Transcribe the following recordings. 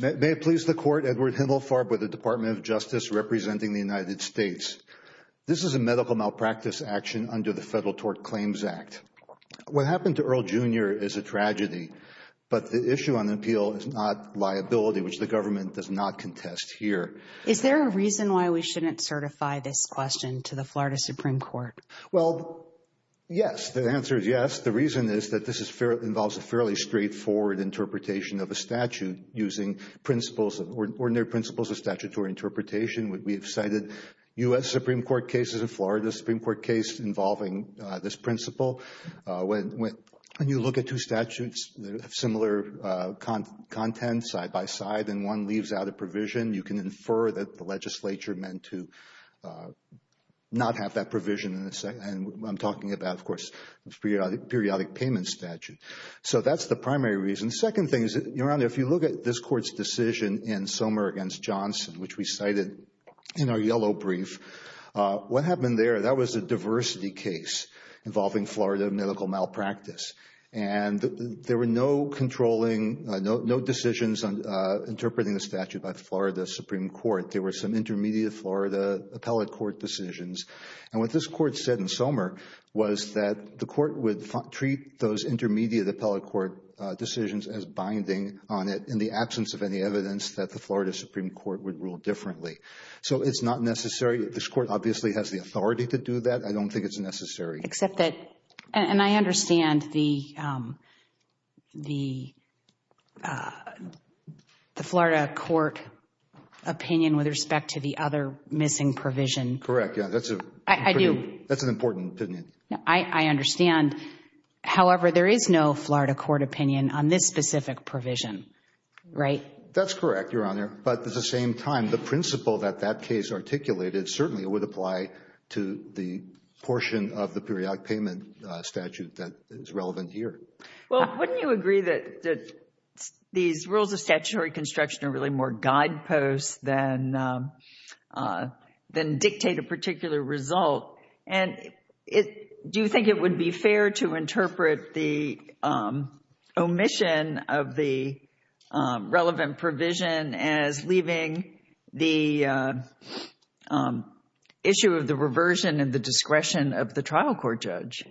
May it please the Court, Edward Himmelfarb with the Department of Justice representing the United States. This is a medical malpractice action under the Federal Tort Claims Act. What happened to Earl Jr. is a tragedy, but the issue on appeal is not liability, which the government does not contest here. Is there a reason why we shouldn't certify this question to the Florida Supreme Court? Well, yes. The answer is yes. The reason is that this involves a fairly straightforward interpretation of a statute using ordinary principles of statutory interpretation. We have cited U.S. Supreme Court cases and Florida Supreme Court case involving this principle. When you look at two statutes that have similar content side by side and one leaves out a provision, you can infer that the legislature meant to not have that provision and I'm talking about, of course, periodic payment statute. So that's the primary reason. Second thing is, Your Honor, if you look at this Court's decision in Somer v. Johnson, which we cited in our yellow brief, what happened there, that was a diversity case involving Florida medical malpractice. And there were no controlling, no decisions on interpreting the statute by the Florida Supreme Court. There were some intermediate Florida appellate court decisions. And what this Court said in Somer was that the Court would treat those intermediate appellate court decisions as binding on it in the absence of any evidence that the Florida Supreme Court would rule differently. So it's not necessary. This Court obviously has the authority to do that. I don't think it's necessary. Except that, and I understand the Florida court opinion with respect to the other missing provision. Correct, yeah. That's an important opinion. I understand. However, there is no Florida court opinion on this specific provision, right? That's correct, Your Honor. But at the same time, the principle that that case articulated certainly would apply to the portion of the periodic payment statute that is relevant here. Well, wouldn't you agree that these rules of statutory construction are really more guideposts than dictate a particular result? And do you think it would be fair to interpret the omission of the relevant provision as leaving the issue of the reversion and the discretion of the trial court judge?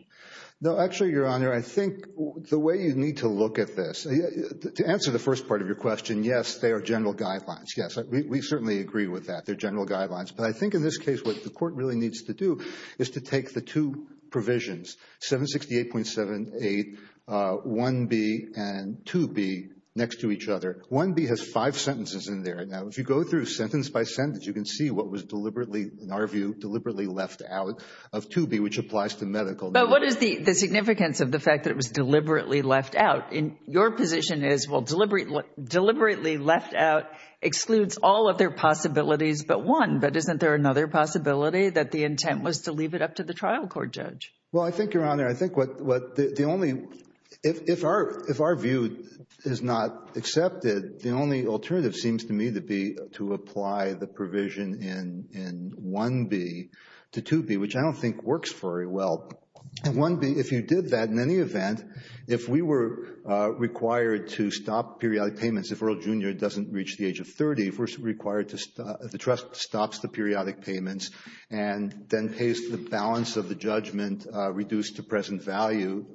No, actually, Your Honor, I think the way you need to look at this, to answer the first part of your question, yes, they are general guidelines. Yes, we certainly agree with that. They're general guidelines. But I think in this case, what the court really needs to do is to take the two provisions, 768.78 1B and 2B next to each other. 1B has five sentences in there. Now, if you go through sentence by sentence, you can see what was deliberately, in our view, deliberately left out of 2B, which applies to medical. But what is the significance of the fact that it was deliberately left out? Your position is, well, deliberately left out excludes all other possibilities but one, but isn't there another possibility that the intent was to leave it up to the trial court judge? Well, I think, Your Honor, I think what the only, if our view is not accepted, the only alternative seems to me to be to apply the provision in 1B to 2B, which I don't think works very well. And 1B, if you did that, in any event, if we were required to stop periodic payments if Earl Jr. doesn't reach the age of 30, if we're required to, if the trust stops the periodic payments and then pays the balance of the judgment reduced to present value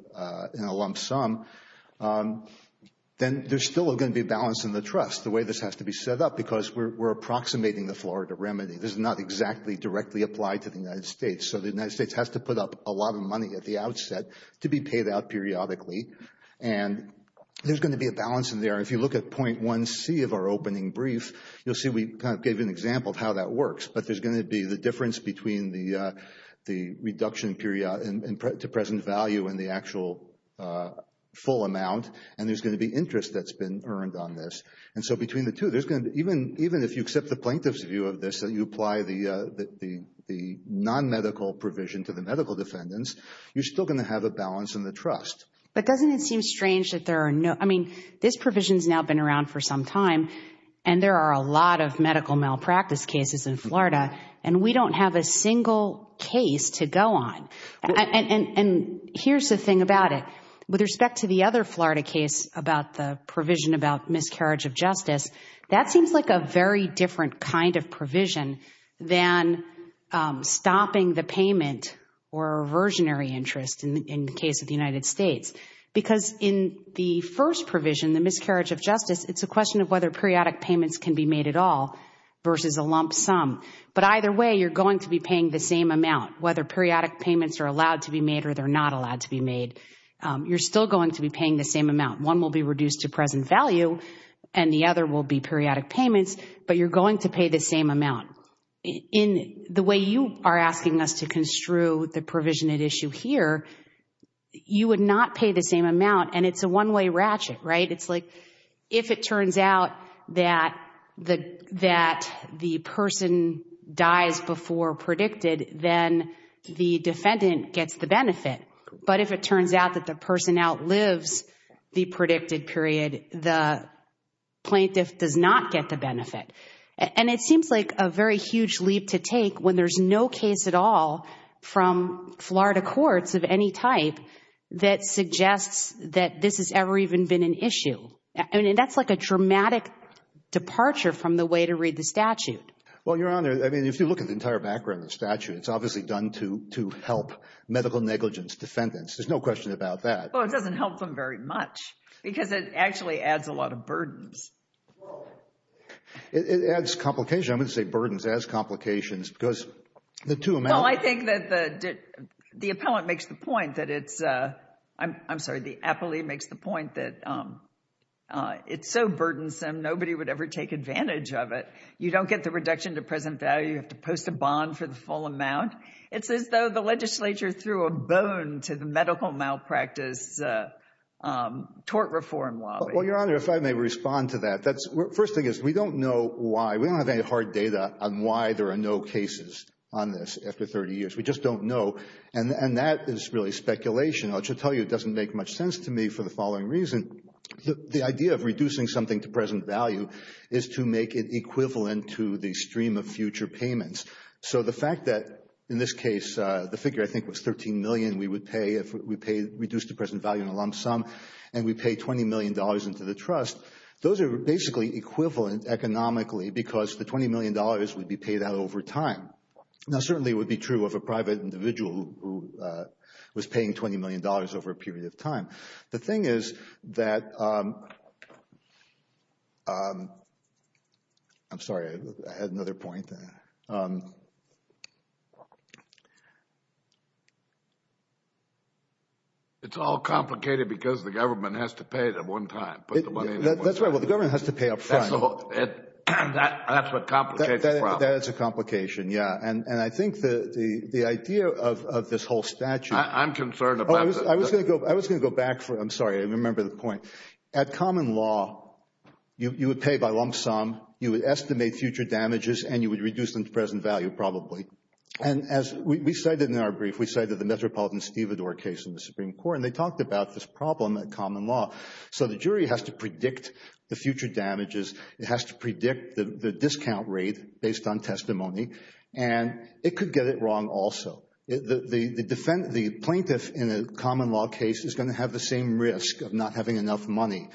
in a lump sum, then there's still going to be a balance in the trust the way this has to be set up because we're approximating the Florida remedy. This is not exactly directly applied to the United States. So the United States has to put up a lot of money at the outset to be paid out periodically. And there's going to be a balance in there. If you look at point 1C of our opening brief, you'll see we kind of gave an example of how that works. But there's going to be the difference between the reduction period to present value and the actual full amount, and there's going to be interest that's been earned on this. And so between the two, there's going to be, even if you accept the plaintiff's view of this and you apply the non-medical provision to the medical defendants, you're still going to have a balance in the trust. But doesn't it seem strange that there are no, I mean, this provision's now been around for some time, and there are a lot of medical malpractice cases in Florida, and we don't have a single case to go on. And here's the thing about it, with respect to the other Florida case about the provision about miscarriage of justice, that seems like a very different kind of provision than stopping the payment or versionary interest in the case of the United States. Because in the first provision, the miscarriage of justice, it's a question of whether periodic payments can be made at all versus a lump sum. But either way, you're going to be paying the same amount, whether periodic payments are allowed to be made or they're not allowed to be made. You're still going to be paying the same amount. One will be reduced to present value, and the other will be periodic payments, but you're going to pay the same amount. In the way you are asking us to construe the provision at issue here, you would not pay the same amount, and it's a one-way ratchet, right? It's like, if it turns out that the person dies before predicted, then the defendant gets the benefit. But if it turns out that the person outlives the predicted period, the plaintiff does not get the benefit. And it seems like a very huge leap to take when there's no case at all from Florida courts of any type that suggests that this has ever even been an issue. I mean, that's like a dramatic departure from the way to read the statute. Well, Your Honor, I mean, if you look at the entire background of the statute, it's obviously done to help medical negligence defendants. There's no question about that. Well, it doesn't help them very much because it actually adds a lot of burdens. It adds complication. I wouldn't say burdens, it adds complications because the two amounts... Well, I think that the appellant makes the point that it's, I'm sorry, the appellee makes the point that it's so burdensome, nobody would ever take advantage of it. You don't get the reduction to present value, you have to post a bond for the full amount. It's as though the legislature threw a bone to the medical malpractice tort reform lobby. Well, Your Honor, if I may respond to that. First thing is, we don't know why, we don't have any hard data on why there are no cases on this after 30 years. We just don't know. And that is really speculation. I'll just tell you, it doesn't make much sense to me for the following reason. The idea of reducing something to present value is to make it equivalent to the stream of future payments. So the fact that, in this case, the figure I think was $13 million we would pay if we pay reduced to present value in a lump sum, and we pay $20 million into the trust. Those are basically equivalent economically because the $20 million would be paid out over time. Now, certainly it would be true of a private individual who was paying $20 million over a period of time. The thing is that, I'm sorry, I had another point there. It's all complicated because the government has to pay it at one time. That's right. Well, the government has to pay up front. That's what complicates the problem. That's a complication, yeah. And I think the idea of this whole statute. I'm concerned about this. I was going to go back for, I'm sorry, I remember the point. At common law, you would pay by lump sum, you would estimate future damages, and you would reduce them to present value probably. And as we cited in our brief, we cited the Metropolitan-Stevador case in the Supreme Court, and they talked about this problem at common law. So the jury has to predict the future damages. It has to predict the discount rate based on testimony. And it could get it wrong also. The plaintiff in a common law case is going to have the same risk of not having enough money.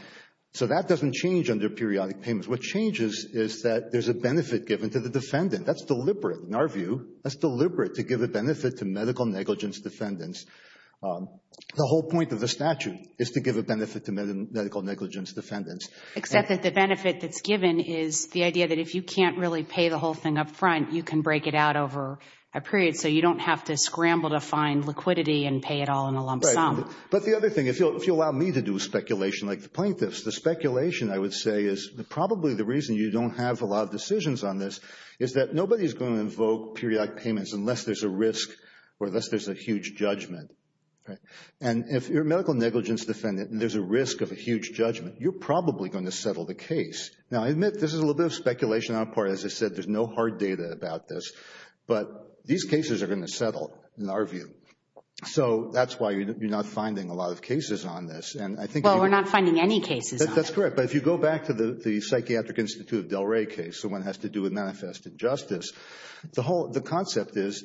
So that doesn't change under periodic payments. What changes is that there's a benefit given to the defendant. That's deliberate in our view. That's deliberate to give a benefit to medical negligence defendants. The whole point of the statute is to give a benefit to medical negligence defendants. Except that the benefit that's given is the idea that if you can't really pay the whole thing up front, you can break it out over a period so you don't have to scramble to find liquidity and pay it all in a lump sum. But the other thing, if you allow me to do speculation like the plaintiffs, the speculation I would say is probably the reason you don't have a lot of decisions on this is that nobody is going to invoke periodic payments unless there's a risk or unless there's a huge judgment. And if you're a medical negligence defendant and there's a risk of a huge judgment, you're probably going to settle the case. Now, I admit this is a little bit of speculation on our part. As I said, there's no hard data about this. But these cases are going to settle in our view. So that's why you're not finding a lot of cases on this. And I think... Well, we're not finding any cases on it. That's correct. But if you go back to the Psychiatric Institute of Delray case, the one that has to do with manifest injustice, the whole concept is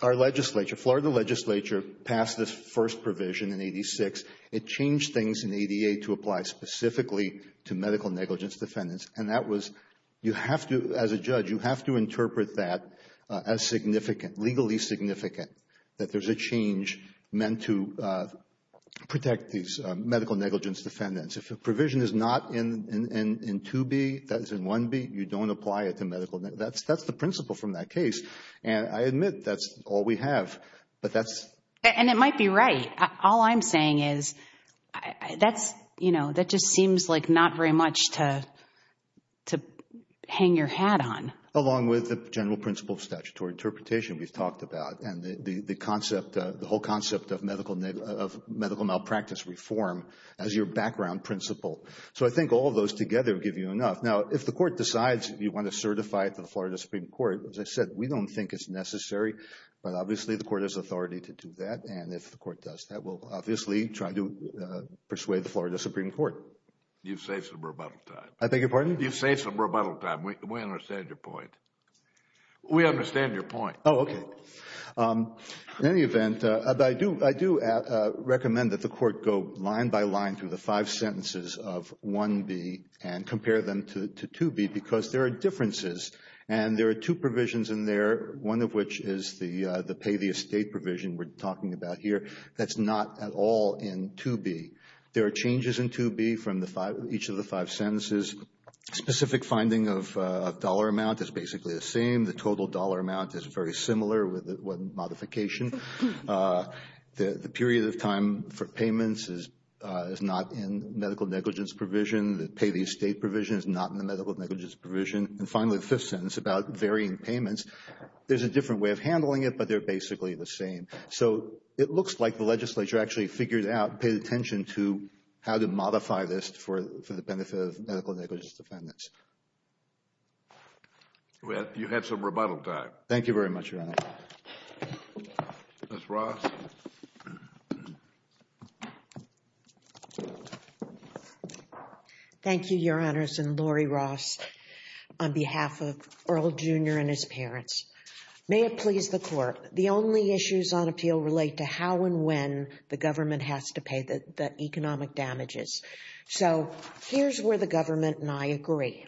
our legislature, Florida legislature passed this first provision in 86. It changed things in 88 to apply specifically to medical negligence defendants. And that was... You have to... As a judge, you have to interpret that as significant, legally significant, that there's a change meant to protect these medical negligence defendants. If a provision is not in 2B, that is in 1B, you don't apply it to medical... That's the principle from that case. And I admit that's all we have. But that's... And it might be right. All I'm saying is that's... That just seems like not very much to hang your hat on. Along with the general principle of statutory interpretation we've talked about. And the concept, the whole concept of medical malpractice reform as your background principle. So I think all of those together would give you enough. Now, if the court decides you want to certify it to the Florida Supreme Court, as I said, we don't think it's necessary, but obviously the court has authority to do that. And if the court does that, we'll obviously try to persuade the Florida Supreme Court. You've saved some rebuttal time. I beg your pardon? You've saved some rebuttal time. We understand your point. We understand your point. Oh, okay. In any event, I do recommend that the court go line by line through the five sentences of 1B and compare them to 2B because there are differences. And there are two provisions in there, one of which is the pay the estate provision we're talking about here, that's not at all in 2B. There are changes in 2B from each of the five sentences. Specific finding of dollar amount is basically the same. The total dollar amount is very similar with modification. The period of time for payments is not in medical negligence provision. The pay the estate provision is not in the medical negligence provision. And finally, the fifth sentence about varying payments, there's a different way of handling it, but they're basically the same. So, it looks like the legislature actually figured out, paid attention to how to modify this for the benefit of medical negligence defendants. You've had some rebuttal time. Thank you very much, Your Honor. Ms. Ross? Thank you, Your Honors. And Lori Ross on behalf of Earl Jr. and his parents. May it please the Court. The only issues on appeal relate to how and when the government has to pay the economic damages. So, here's where the government and I agree.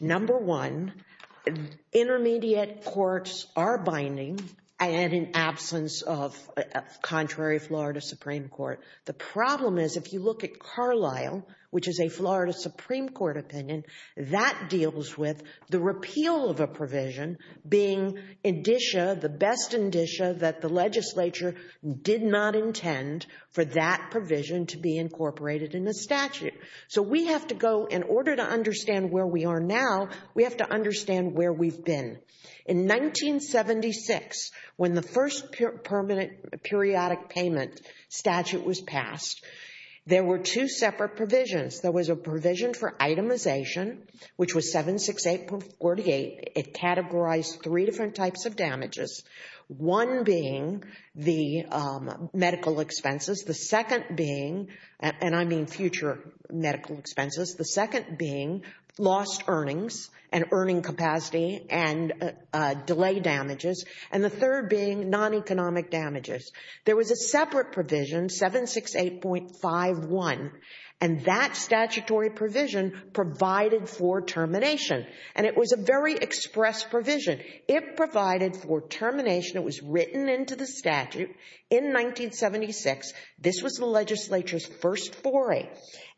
Number one, intermediate courts are binding and in absence of contrary Florida Supreme Court. The problem is, if you look at Carlisle, which is a Florida Supreme Court opinion, that deals with the repeal of a provision being the best indicia that the legislature did not intend for that provision to be incorporated in the statute. So, we have to go, in order to understand where we are now, we have to understand where we've been. In 1976, when the first permanent periodic payment statute was passed, there were two separate provisions. There was a provision for itemization, which was 768.48. It categorized three different types of damages, one being the medical expenses, the second being, and I mean future medical expenses, the second being lost earnings and earning capacity and delay damages, and the third being non-economic damages. There was a separate provision, 768.51, and that statutory provision provided for termination. And it was a very express provision. It provided for termination, it was written into the statute in 1976. This was the legislature's first foray.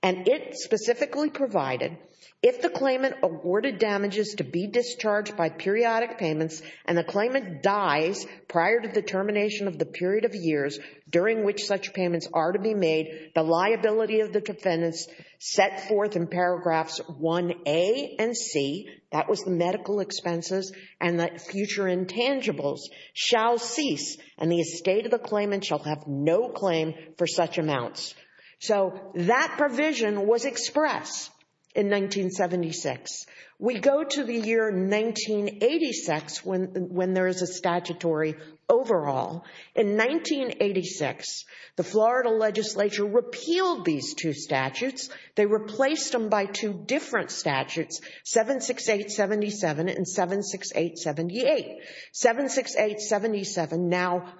And it specifically provided, if the claimant awarded damages to be discharged by periodic payments and the claimant dies prior to the termination of the period of years during which such payments are to be made, the liability of the defendants set forth in paragraphs 1A and C, that was the medical expenses, and that future intangibles shall cease and the estate of the claimant shall have no claim for such amounts. So that provision was expressed in 1976. We go to the year 1986 when there is a statutory overhaul. In 1986, the Florida legislature repealed these two statutes. They replaced them by two different statutes, 768.77 and 768.78. 768.77 now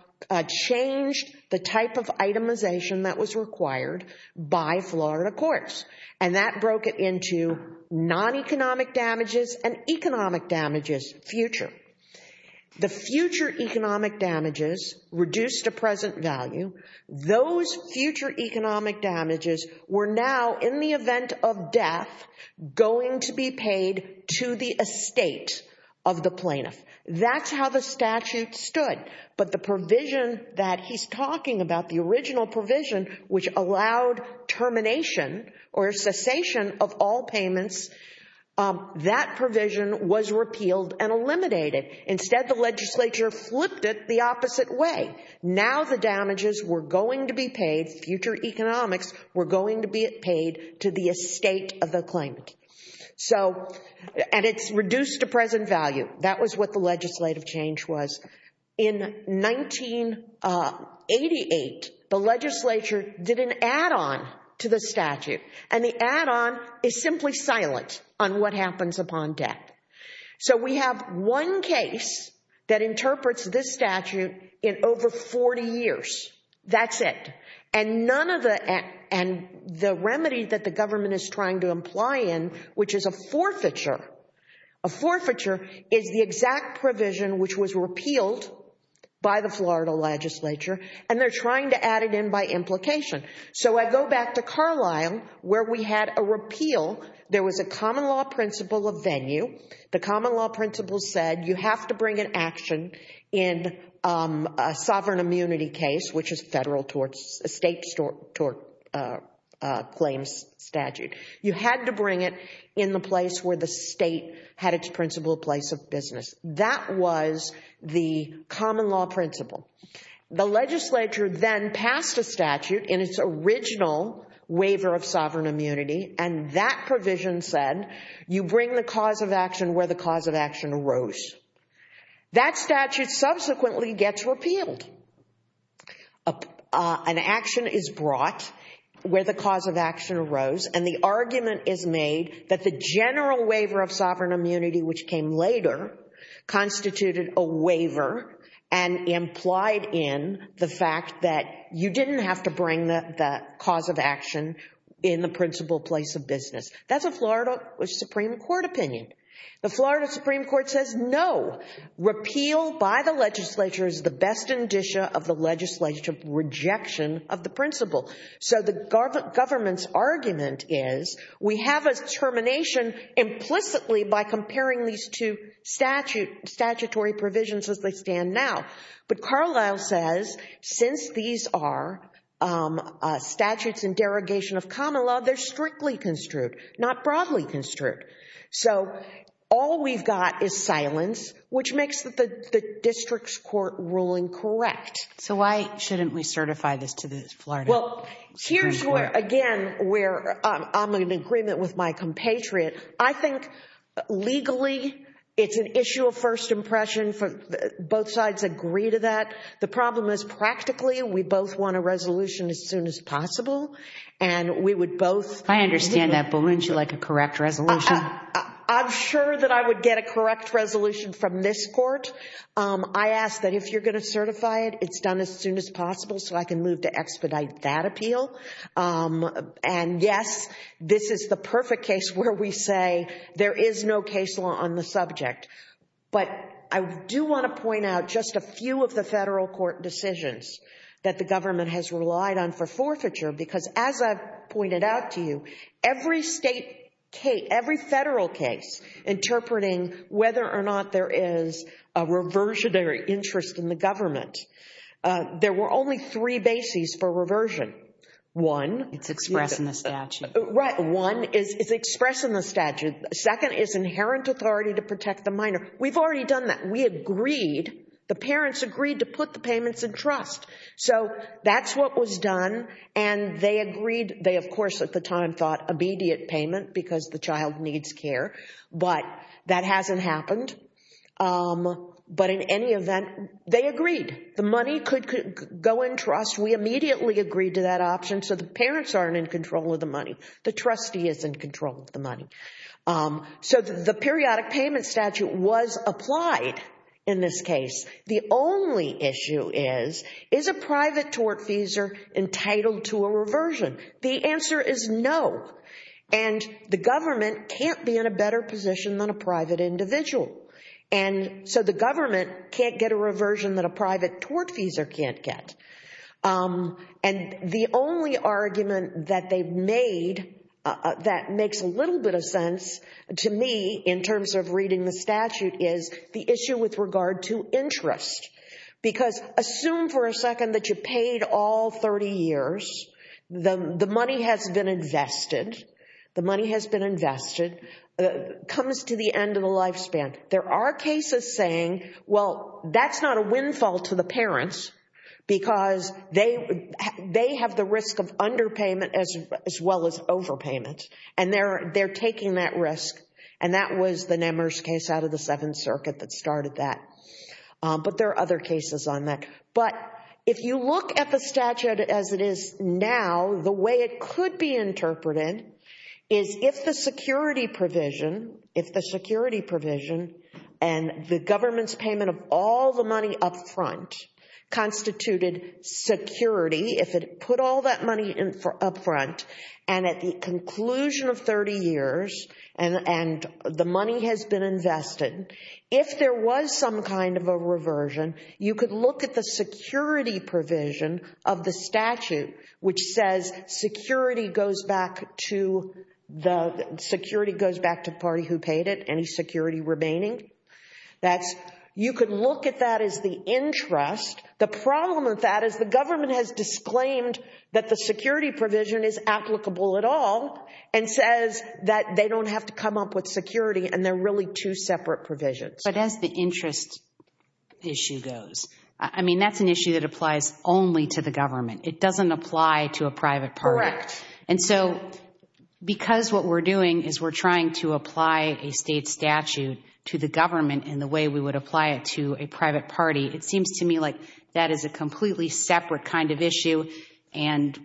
changed the type of itemization that was required by Florida courts. And that broke it into non-economic damages and economic damages, future. The future economic damages reduced to present value. Those future economic damages were now, in the event of death, going to be paid to the estate of the plaintiff. That's how the statute stood. But the provision that he's talking about, the original provision which allowed termination or cessation of all payments, that provision was repealed and eliminated. Instead, the legislature flipped it the opposite way. Now the damages were going to be paid, future economics were going to be paid to the estate of the claimant. And it's reduced to present value. That was what the legislative change was. In 1988, the legislature did an add-on to the statute and the add-on is simply silent on what happens upon death. So we have one case that interprets this statute in over 40 years. That's it. And none of the, and the remedy that the government is trying to imply in, which is a forfeiture, a forfeiture is the exact provision which was repealed by the Florida legislature and they're trying to add it in by implication. So I go back to Carlisle where we had a repeal. There was a common law principle of venue. The common law principle said you have to bring an action in a sovereign immunity case, which is federal tort, a state tort claims statute. You had to bring it in the place where the state had its principle place of business. That was the common law principle. The legislature then passed a statute in its original waiver of sovereign immunity and that provision said you bring the cause of action where the cause of action arose. That statute subsequently gets repealed. An action is brought where the cause of action arose and the argument is made that the general waiver of sovereign immunity, which came later, constituted a waiver and implied in the fact that you didn't have to bring the cause of action in the principle place of business. That's a Florida Supreme Court opinion. The Florida Supreme Court says no. Repeal by the legislature is the best indicia of the legislature's rejection of the principle. So the government's argument is we have a termination implicitly by comparing these two statutory provisions as they stand now. But Carlisle says since these are statutes in derogation of common law, they're strictly construed, not broadly construed. So all we've got is silence, which makes the district's court ruling correct. So why shouldn't we certify this to the Florida Supreme Court? Well, here's where, again, where I'm in agreement with my compatriot. I think legally it's an issue of first impression. Both sides agree to that. The problem is practically we both want a resolution as soon as possible and we would both- I understand that, but wouldn't you like a correct resolution? I'm sure that I would get a correct resolution from this court. I ask that if you're going to certify it, it's done as soon as possible so I can move to expedite that appeal. And yes, this is the perfect case where we say there is no case law on the subject. But I do want to point out just a few of the federal court decisions that the government has relied on for forfeiture because as I've pointed out to you, every state case, every federal case interpreting whether or not there is a reversionary interest in the government, there were only three bases for reversion. One- It's expressed in the statute. Right. One is expressed in the statute. Second is inherent authority to protect the minor. We've already done that. We agreed. The parents agreed to put the payments in trust. So that's what was done and they agreed, they of course at the time thought immediate payment because the child needs care, but that hasn't happened. But in any event, they agreed. The money could go in trust. We immediately agreed to that option so the parents aren't in control of the money. The trustee is in control of the money. So the periodic payment statute was applied in this case. The only issue is, is a private tortfeasor entitled to a reversion? The answer is no. And the government can't be in a better position than a private individual. And so the government can't get a reversion that a private tortfeasor can't get. And the only argument that they've made that makes a little bit of sense to me in terms of reading the statute is the issue with regard to interest. Because assume for a second that you paid all 30 years, the money has been invested, the money has been invested, comes to the end of the lifespan. There are cases saying, well, that's not a windfall to the parents because they have the risk of underpayment as well as overpayment. And they're taking that risk. And that was the Nemers case out of the Seventh Circuit that started that. But there are other cases on that. But if you look at the statute as it is now, the way it could be interpreted is if the security provision, if the security provision and the government's payment of all the money up front constituted security, if it put all that money up front and at the conclusion of 30 years and the money has been invested, if there was some kind of a reversion, you could look at the security provision of the statute which says security goes back to the party who paid it, any security remaining. That's, you could look at that as the interest. The problem with that is the government has disclaimed that the security provision is applicable at all and says that they don't have to come up with security and they're really two separate provisions. But as the interest issue goes, I mean, that's an issue that applies only to the government. It doesn't apply to a private party. And so because what we're doing is we're trying to apply a state statute to the government in the way we would apply it to a private party, it seems to me like that is a completely separate kind of issue and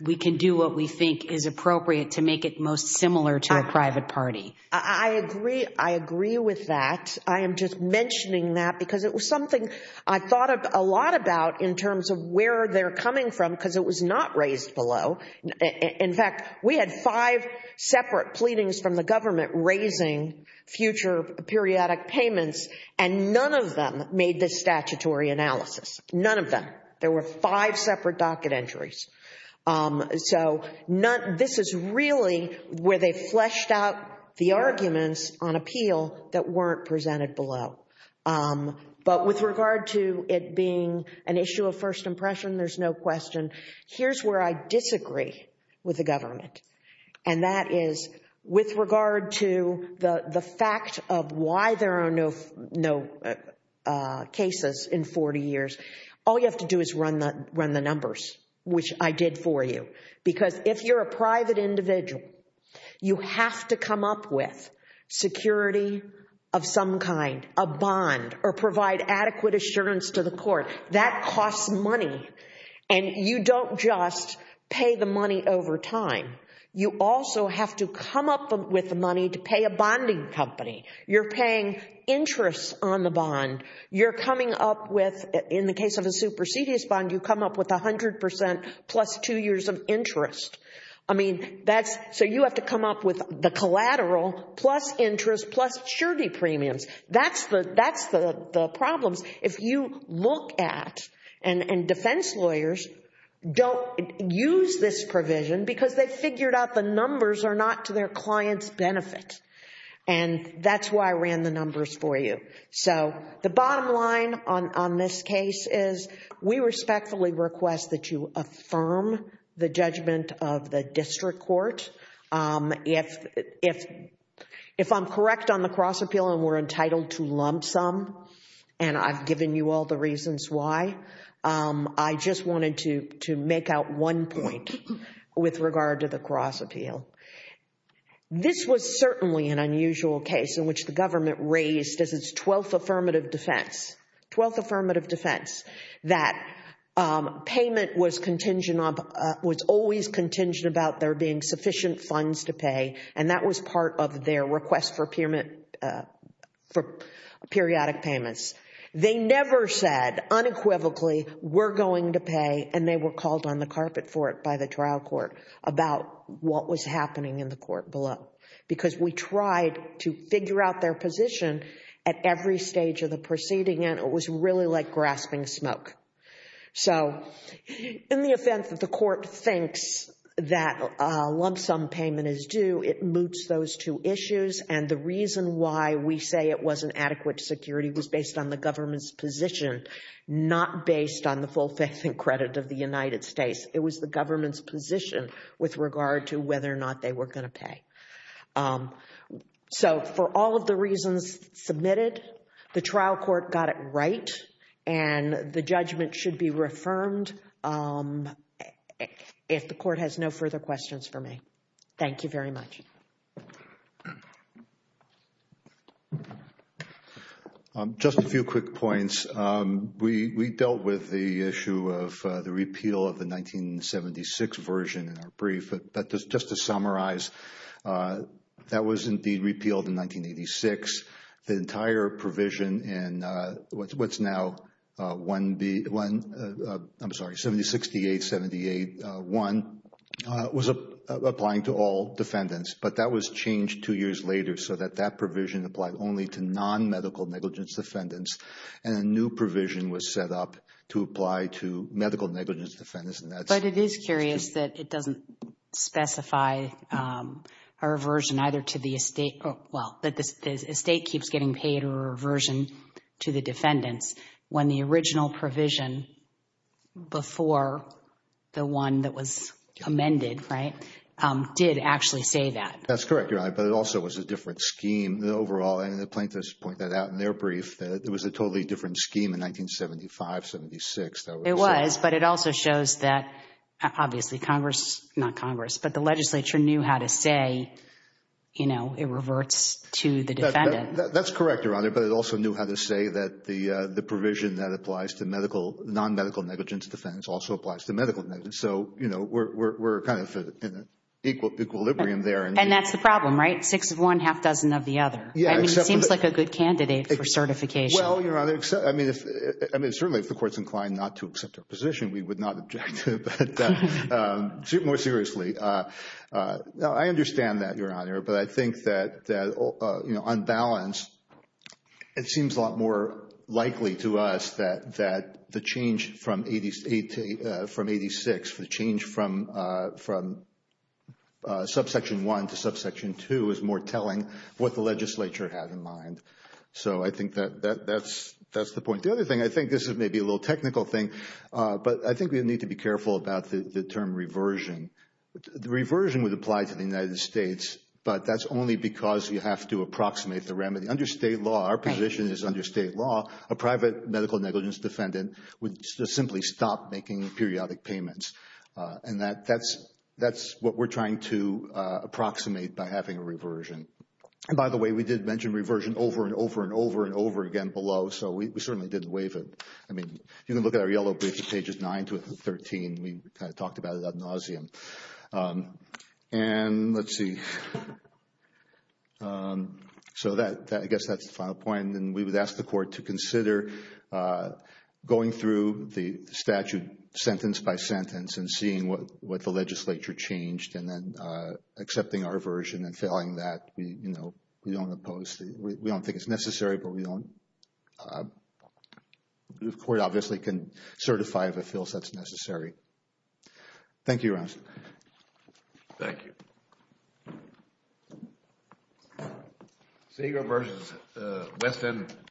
we can do what we think is appropriate to make it most similar to a private party. I agree. I agree with that. I am just mentioning that because it was something I thought a lot about in terms of where they're coming from because it was not raised below. In fact, we had five separate pleadings from the government raising future periodic payments and none of them made this statutory analysis. None of them. There were five separate docket entries. So this is really where they fleshed out the arguments on appeal that weren't presented below. But with regard to it being an issue of first impression, there's no question. Here's where I disagree with the government. And that is with regard to the fact of why there are no cases in 40 years. All you have to do is run the numbers, which I did for you. Because if you're a private individual, you have to come up with security of some kind, a bond, or provide adequate assurance to the court. That costs money and you don't just pay the money over time. You also have to come up with the money to pay a bonding company. You're paying interest on the bond. You're coming up with, in the case of a supersedious bond, you come up with 100% plus two years of interest. I mean, that's, so you have to come up with the collateral plus interest plus surety premiums. That's the problem. If you look at, and defense lawyers don't use this provision because they've figured out the numbers are not to their client's benefit. And that's why I ran the numbers for you. So the bottom line on this case is we respectfully request that you affirm the judgment of the district court. If I'm correct on the cross appeal and we're entitled to lump sum, and I've given you all the reasons why, I just wanted to make out one point with regard to the cross appeal. This was certainly an unusual case in which the government raised as its twelfth affirmative defense, twelfth affirmative defense, that payment was contingent on, was always contingent about there being sufficient funds to pay. And that was part of their request for periodic payments. They never said unequivocally, we're going to pay, and they were called on the carpet for it by the trial court about what was happening in the court below. Because we tried to figure out their position at every stage of the proceeding, and it was really like grasping smoke. So in the offense that the court thinks that a lump sum payment is due, it moots those two issues. And the reason why we say it wasn't adequate security was based on the government's position, not based on the full faith and credit of the United States. It was the government's position with regard to whether or not they were going to pay. So for all of the reasons submitted, the trial court got it right, and the judgment should be reaffirmed if the court has no further questions for me. Thank you very much. Just a few quick points. We dealt with the issue of the repeal of the 1976 version in our brief, but just to summarize, that was indeed repealed in 1986. The entire provision in what's now 1B, I'm sorry, 7068-78-1 was applying to all defendants, but that was changed two years later so that that provision applied only to non-medical negligence defendants, and a new provision was set up to apply to medical negligence defendants. But it is curious that it doesn't specify a reversion either to the estate, well, that the estate keeps getting paid or a reversion to the defendants when the original provision before the one that was amended, right, did actually say that. That's correct, Your Honor, but it also was a different scheme. The overall, and the plaintiffs point that out in their brief, that it was a totally different scheme in 1975-76. It was, but it also shows that, obviously, Congress, not Congress, but the legislature knew how to say it reverts to the defendant. That's correct, Your Honor, but it also knew how to say that the provision that applies to non-medical negligence defendants also applies to medical negligence, so we're kind of in equilibrium there. And that's the problem, right? Six of one, half dozen of the other. I mean, it seems like a good candidate for certification. Well, Your Honor, I mean, certainly if the court's inclined not to accept our position, we would not object to it, but more seriously. No, I understand that, Your Honor, but I think that on balance, it seems a lot more likely to us that the change from 86, the change from subsection one to subsection two is more telling what the legislature had in mind. So I think that that's the point. The other thing, I think this is maybe a little technical thing, but I think we need to be careful about the term reversion. The reversion would apply to the United States, but that's only because you have to approximate the remedy. Under state law, our position is under state law, a private medical negligence defendant would simply stop making periodic payments, and that's what we're trying to approximate by having a reversion. And by the way, we did mention reversion over and over and over and over again below, so we certainly didn't waive it. I mean, you can look at our yellow briefs at pages 9 to 13. We kind of talked about it ad nauseum. And let's see. So I guess that's the final point, and we would ask the court to consider going through the statute sentence by sentence and seeing what the legislature changed and then accepting our version and failing that. We don't think it's necessary, but the court obviously can certify if it feels that's necessary. Thank you, Your Honor. Thank you.